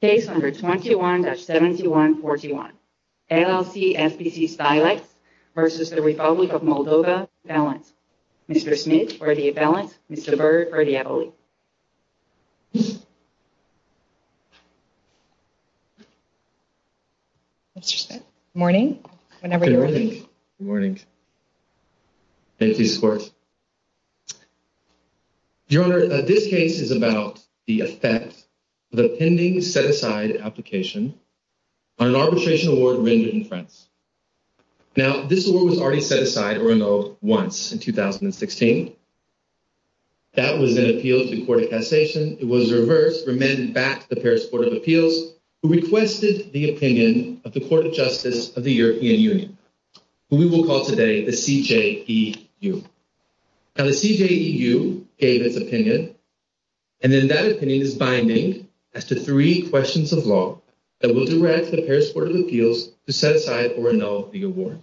Case number 21-7141, LLC SPC Stileks v. The Republic of Moldova, balance. Mr. Smith for the balance, Mr. Byrd for the ability. Mr. Smith, good morning. Whenever you're ready. Good morning. Thank you, Swartz. Your Honor, this case is about the effect of a pending set-aside application on an arbitration award rendered in France. Now, this award was already set aside or annulled once in 2016. That was an appeal to the Court of Cassation. It was reversed, remanded back to the Paris Court of Appeals, who requested the opinion of the Court of Justice of the European Union, who we will call today the CJEU. Now, the CJEU gave its opinion, and then that opinion is binding as to three questions of law that will direct the Paris Court of Appeals to set aside or annul the award.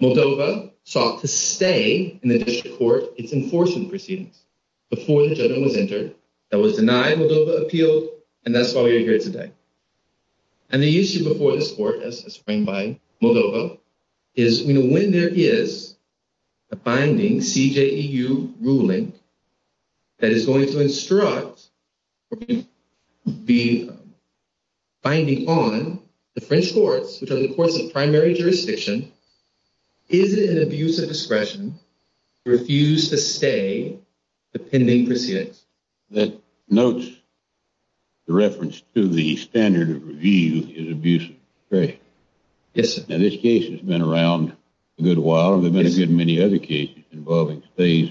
Moldova sought to stay in the district court its enforcement proceedings before the judgment was entered that was denied Moldova appealed, and that's why we're here today. And the issue before this Court, as explained by Moldova, is when there is a binding CJEU ruling that is going to instruct or be binding on the French courts, which are the courts of primary jurisdiction, is it an abuse of discretion to refuse to stay the pending proceedings? That notes the reference to the standard of review is abuse of discretion. Yes, sir. Now, this case has been around a good while, and there have been a good many other cases involving stays,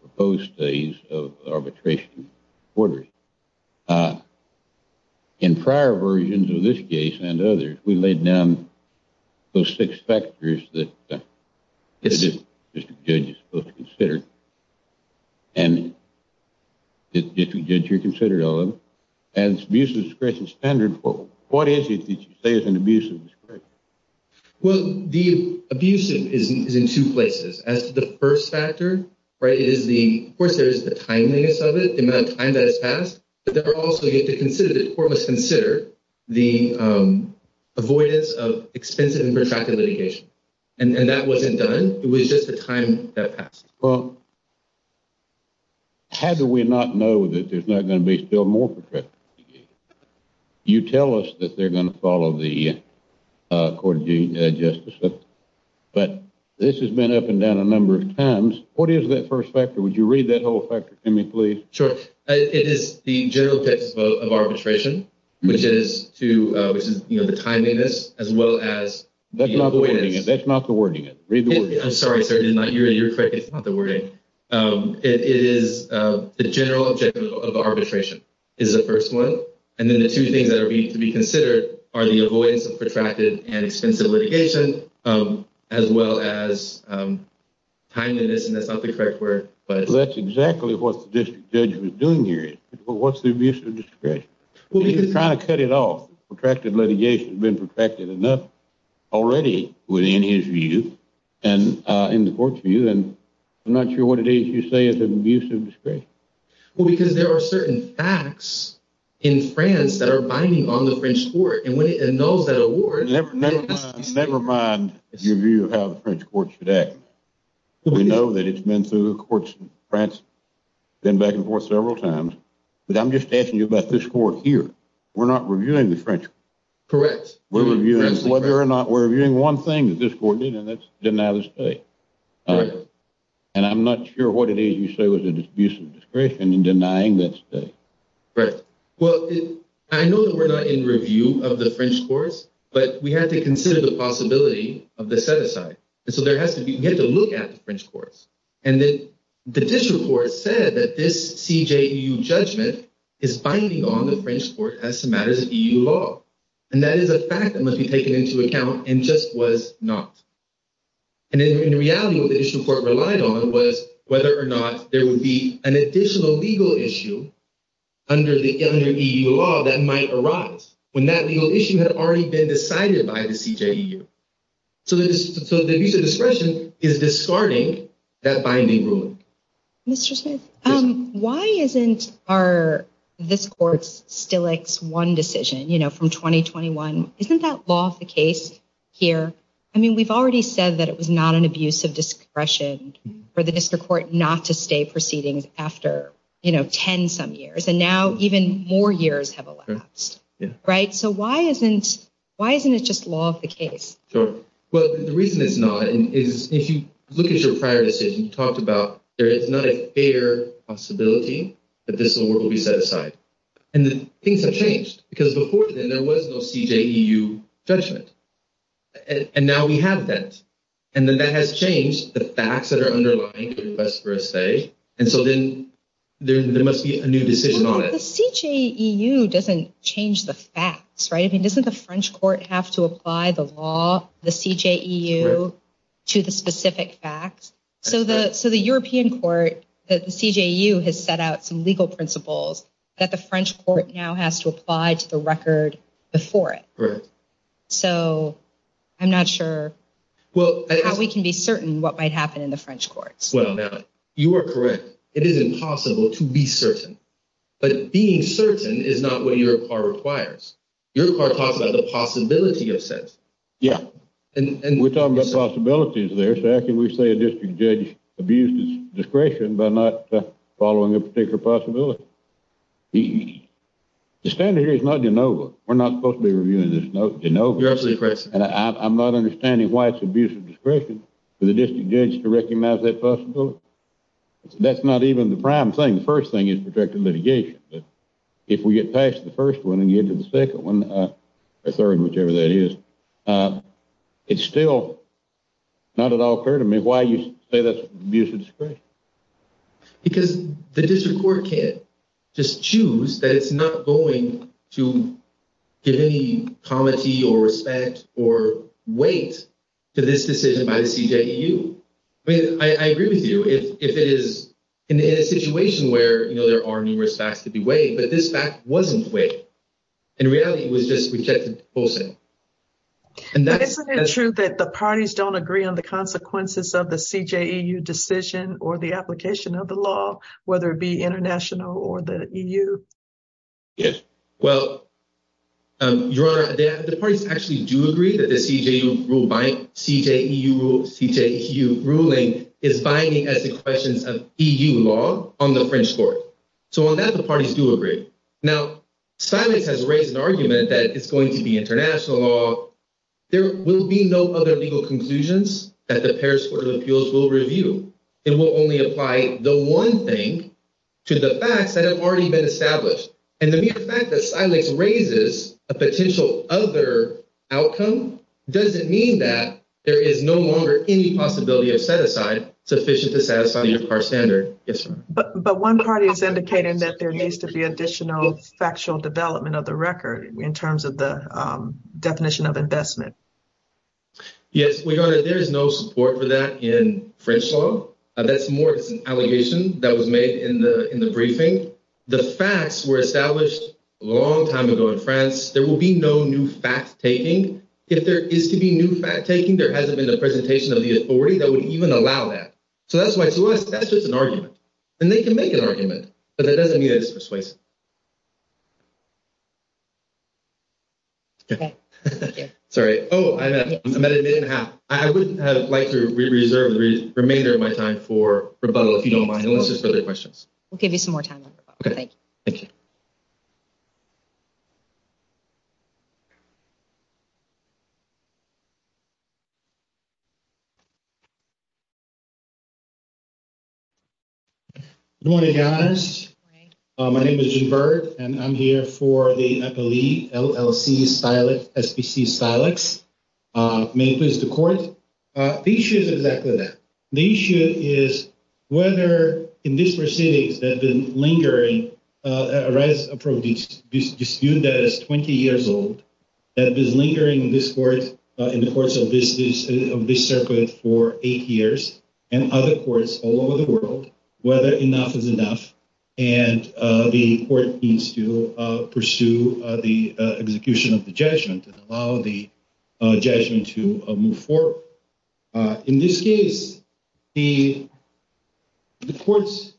proposed stays, of arbitration orders. In prior versions of this case and others, we laid down those six factors that the district judge is supposed to consider, and the district judge here considered all of them, and it's abuse of discretion standard. What is it that you say is an abuse of discretion? Well, the abuse is in two places. As to the first factor, right, it is the, of course, there is the timeliness of it, the amount of time that has passed, but there are also, you have to consider, the court must consider the avoidance of expensive and protracted litigation. And that wasn't done. It was just the time that passed. Well, how do we not know that there's not going to be still more protracted litigation? You tell us that they're going to follow the court of justice, but this has been up and down a number of times. What is that first factor? Would you read that whole factor to me, please? Sure. It is the general objective of arbitration, which is to, which is, you know, the timeliness as well as the avoidance. That's not the wording. Read the wording. You're correct. It's not the wording. It is the general objective of arbitration is the first one. And then the two things that are to be considered are the avoidance of protracted and expensive litigation as well as timeliness. And that's not the correct word. But that's exactly what the district judge was doing here. But what's the abuse of discretion? He's trying to cut it off. Protracted litigation has been protracted enough already within his view and in the court's view. And I'm not sure what it is you say is an abuse of discretion. Well, because there are certain facts in France that are binding on the French court. And when it annuls that award… Never mind your view of how the French court should act. We know that it's been through the courts in France, been back and forth several times. But I'm just asking you about this court here. We're not reviewing the French court. Correct. We're reviewing one thing that this court did, and that's deny the state. And I'm not sure what it is you say was an abuse of discretion in denying that state. Right. Well, I know that we're not in review of the French courts, but we have to consider the possibility of the set-aside. And so we have to look at the French courts. And the district court said that this CJEU judgment is binding on the French court as to matters of EU law. And that is a fact that must be taken into account and just was not. And in reality, what the district court relied on was whether or not there would be an additional legal issue under EU law that might arise, when that legal issue had already been decided by the CJEU. So the abuse of discretion is discarding that binding ruling. Mr. Smith, why isn't our, this court's, Stillich's one decision, you know, from 2021, isn't that law of the case here? I mean, we've already said that it was not an abuse of discretion for the district court not to stay proceedings after, you know, 10 some years. And now even more years have elapsed. Right. So why isn't, why isn't it just law of the case? Sure. Well, the reason it's not is if you look at your prior decision, you talked about there is not a fair possibility that this award will be set aside. And things have changed because before then there was no CJEU judgment. And now we have that. And then that has changed the facts that are underlying the request for a stay. And so then there must be a new decision on it. The CJEU doesn't change the facts, right? I mean, doesn't the French court have to apply the law, the CJEU to the specific facts? So the so the European court, the CJEU has set out some legal principles that the French court now has to apply to the record before it. So I'm not sure how we can be certain what might happen in the French courts. Well, you are correct. It is impossible to be certain. But being certain is not what your car requires. Your car talks about the possibility of sense. Yeah. And we're talking about possibilities there. So how can we say a district judge abused his discretion by not following a particular possibility? The standard here is not de novo. We're not supposed to be reviewing this de novo. You're absolutely correct, sir. And I'm not understanding why it's abuse of discretion for the district judge to recognize that possibility. That's not even the prime thing. The first thing is protected litigation. But if we get past the first one and get to the second one, the third, whichever that is, it's still not at all clear to me why you say that's abuse of discretion. Because the district court can't just choose that it's not going to give any comity or respect or weight to this decision by the CJEU. I mean, I agree with you if it is in a situation where, you know, there are numerous facts to be weighed, but this fact wasn't weighed. In reality, it was just rejected. And that's the truth that the parties don't agree on the consequences of the CJEU decision or the application of the law, whether it be international or the EU. Yes. Well, Your Honor, the parties actually do agree that the CJEU ruling is binding as the questions of EU law on the French court. So on that, the parties do agree. Now, silence has raised an argument that it's going to be international law. There will be no other legal conclusions that the Paris Court of Appeals will review. It will only apply the one thing to the facts that have already been established. And the fact that silence raises a potential other outcome doesn't mean that there is no longer any possibility of set aside sufficient to satisfy your standard. But one party is indicating that there needs to be additional factual development of the record in terms of the definition of investment. Yes, Your Honor, there is no support for that in French law. That's more of an allegation that was made in the briefing. The facts were established a long time ago in France. There will be no new fact taking. If there is to be new fact taking, there hasn't been a presentation of the authority that would even allow that. So that's why to us, that's just an argument. And they can make an argument, but that doesn't mean it's persuasive. Sorry. Oh, I'm at a minute and a half. I would like to reserve the remainder of my time for rebuttal, if you don't mind, unless there's other questions. We'll give you some more time. Thank you. Good morning, guys. My name is G. Bird, and I'm here for the L. L. C. Silent. S. P. C. Silex may please the court. The issue is exactly that the issue is whether in this proceedings that have been lingering arise a problem. This dispute that is 20 years old that is lingering in this court in the course of this circuit for eight years and other courts all over the world, whether enough is enough. And the court needs to pursue the execution of the judgment and allow the judgment to move forward. In this case, the courts.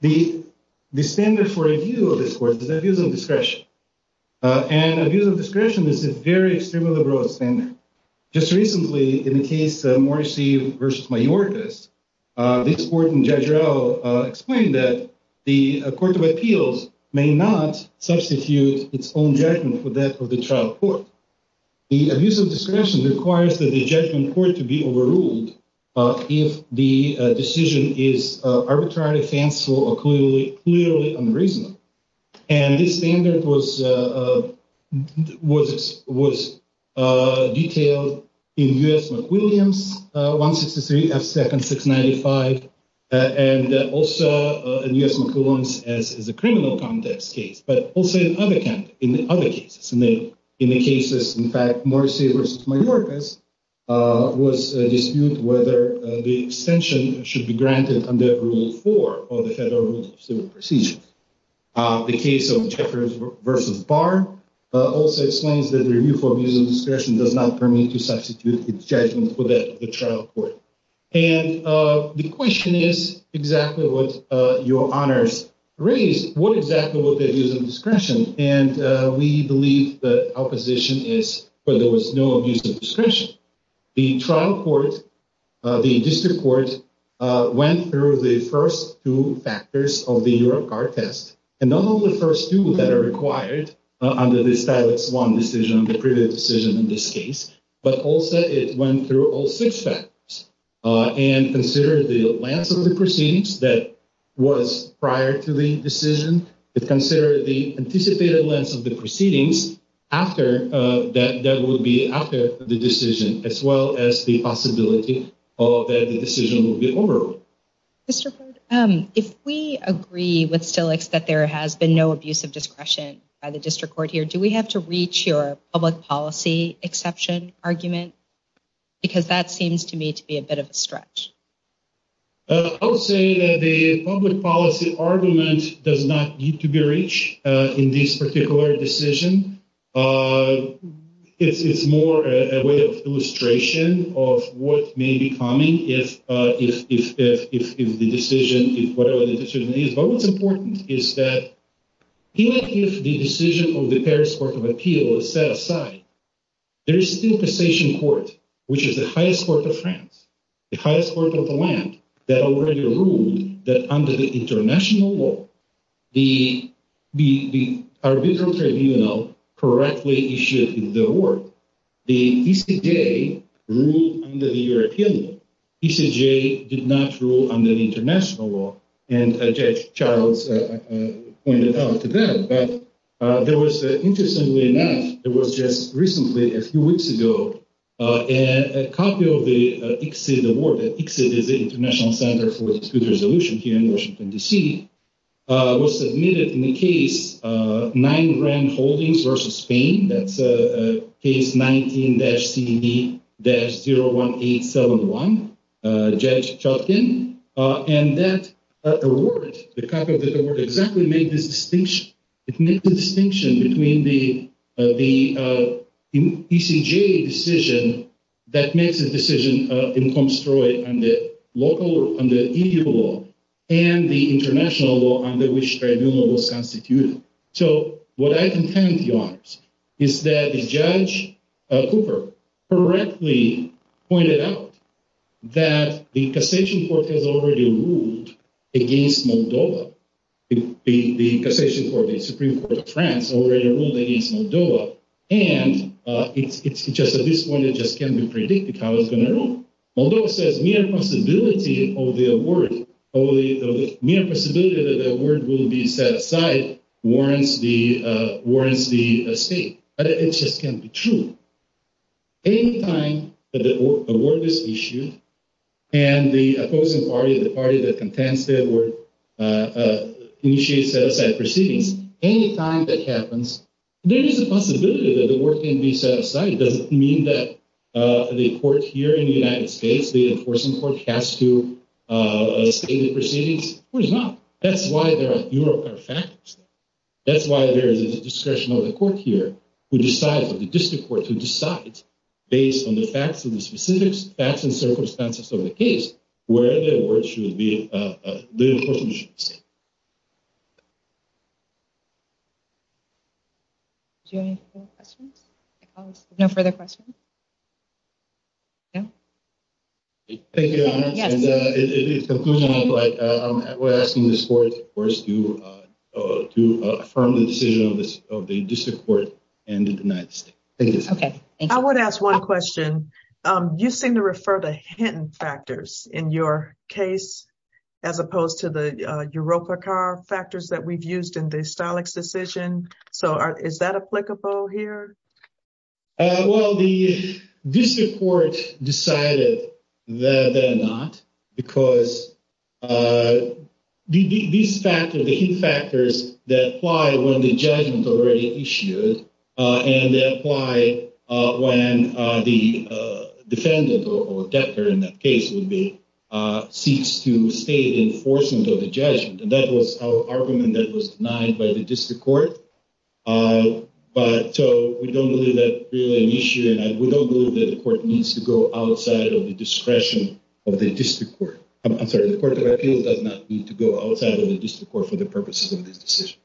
The standard for review of this court is abuse of discretion, and abuse of discretion is a very extremely broad standard. Just recently, in the case of Morrissey versus Mayorkas, this court in judge row explained that the court of appeals may not substitute its own judgment for that of the trial court. The abuse of discretion requires that the judgment court to be overruled if the decision is arbitrarily fanciful or clearly, clearly unreasonable. And this standard was, was, was detailed in U.S. McWilliams, 163 F. Second 695, and also in U.S. McWilliams as a criminal context case, but also in other cases. In the cases, in fact, Morrissey versus Mayorkas was a dispute whether the extension should be granted under rule four of the federal rule of civil procedure. The case of Jeffers versus Barr also explains that the review for abuse of discretion does not permit to substitute its judgment for that of the trial court. And the question is exactly what your honors raised. What exactly was the abuse of discretion? And we believe the opposition is that there was no abuse of discretion. The trial court, the district court, went through the first two factors of the Eurocard test. And not only the first two that are required under the status one decision, the previous decision in this case, but also it went through all six factors. And consider the length of the proceedings that was prior to the decision. Consider the anticipated length of the proceedings after that. That would be after the decision, as well as the possibility that the decision will be over. Mr. Because that seems to me to be a bit of a stretch. I would say that the public policy argument does not need to be reached in this particular decision. It's more a way of illustration of what may be coming if the decision, whatever the decision is. But what's important is that even if the decision of the Paris Court of Appeal is set aside, there is still a cessation court, which is the highest court of France. The highest court of the land that already ruled that under the international law, the arbitral tribunal correctly issued the award. The ECJ ruled under the European law. ECJ did not rule under the international law. And Judge Charles pointed out to that. But there was, interestingly enough, there was just recently, a few weeks ago, a copy of the ICSID award. ICSID is the International Center for Resolution here in Washington, D.C., was submitted in the case nine grand holdings versus Spain. That's a case 19-CD-01871, Judge Chotkin. And that award, the copy of that award, exactly made this distinction. It made the distinction between the ECJ decision that makes a decision in Comstroy under EU law and the international law under which tribunal was constituted. And so what I contend, Your Honors, is that Judge Cooper correctly pointed out that the cessation court has already ruled against Moldova. The cessation court, the Supreme Court of France, already ruled against Moldova. And it's just at this point, it just can't be predicted how it's going to rule. Moldova says mere possibility of the award, mere possibility that the award will be set aside warrants the state. But it just can't be true. Any time that the award is issued and the opposing party, the party that contends the award, initiates set-aside proceedings, any time that happens, there is a possibility that the award can be set aside. It doesn't mean that the court here in the United States, the enforcement court, has to state the proceedings. Of course not. That's why there are European factors. That's why there is a discretion of the court here who decides, of the district court who decides, based on the facts of the specifics, facts and circumstances of the case, where the award should be, the enforcement should be set. Do you have any further questions? No further questions? Thank you, Your Honor. Yes. In conclusion, we're asking this court, of course, to affirm the decision of the district court and to deny the state. Thank you. Okay. I would ask one question. You seem to refer to Hinton factors in your case, as opposed to the Yeroka Carr factors that we've used in the Stalick's decision. So is that applicable here? Well, the district court decided that they're not, because these factors, the Hinton factors, they apply when the judgment is already issued, and they apply when the defendant or debtor in that case seeks to state enforcement of the judgment. And that was an argument that was denied by the district court. But so we don't believe that really an issue, and we don't believe that the court needs to go outside of the discretion of the district court. I'm sorry, the Court of Appeals does not need to go outside of the district court for the purposes of this decision.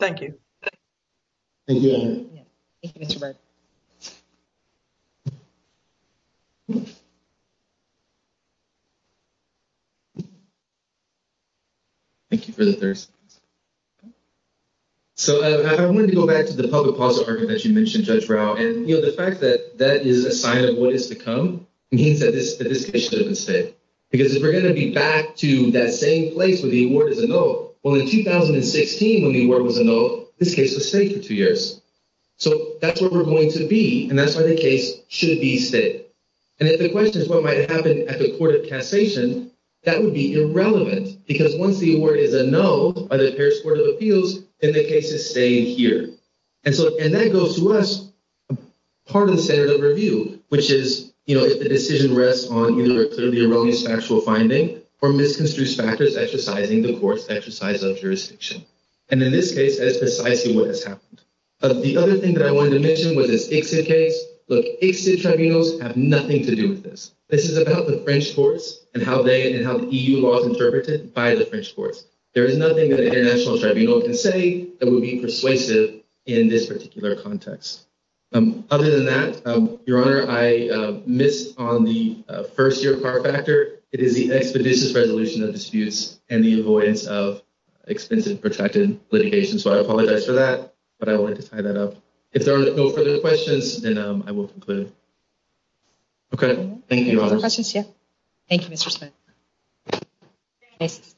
Thank you. Thank you, Your Honor. Thank you, Mr. Berg. Thank you. Thank you for the 30 seconds. So I wanted to go back to the public policy argument that you mentioned, Judge Rao. And, you know, the fact that that is a sign of what is to come means that this case should have been stayed. Because if we're going to be back to that same place where the award is a note, well, in 2016, when the award was a note, this case was stayed for two years. So that's where we're going to be, and that's why the case should be stayed. And if the question is what might happen at the court of cassation, that would be irrelevant. Because once the award is a note by the Paris Court of Appeals, then the case is stayed here. And that goes to us, part of the standard of review, which is, you know, if the decision rests on either a clearly erroneous factual finding or misconstrued factors exercising the court's exercise of jurisdiction. And in this case, that is precisely what has happened. The other thing that I wanted to mention was this ICSID case. Look, ICSID tribunals have nothing to do with this. This is about the French courts and how they and how the EU law is interpreted by the French courts. There is nothing that an international tribunal can say that would be persuasive in this particular context. Other than that, Your Honor, I missed on the first-year par factor. It is the expeditious resolution of disputes and the avoidance of expensive protracted litigation. So I apologize for that, but I wanted to tie that up. If there are no further questions, then I will conclude. Okay. Thank you, Your Honor. Thank you, Mr. Smith.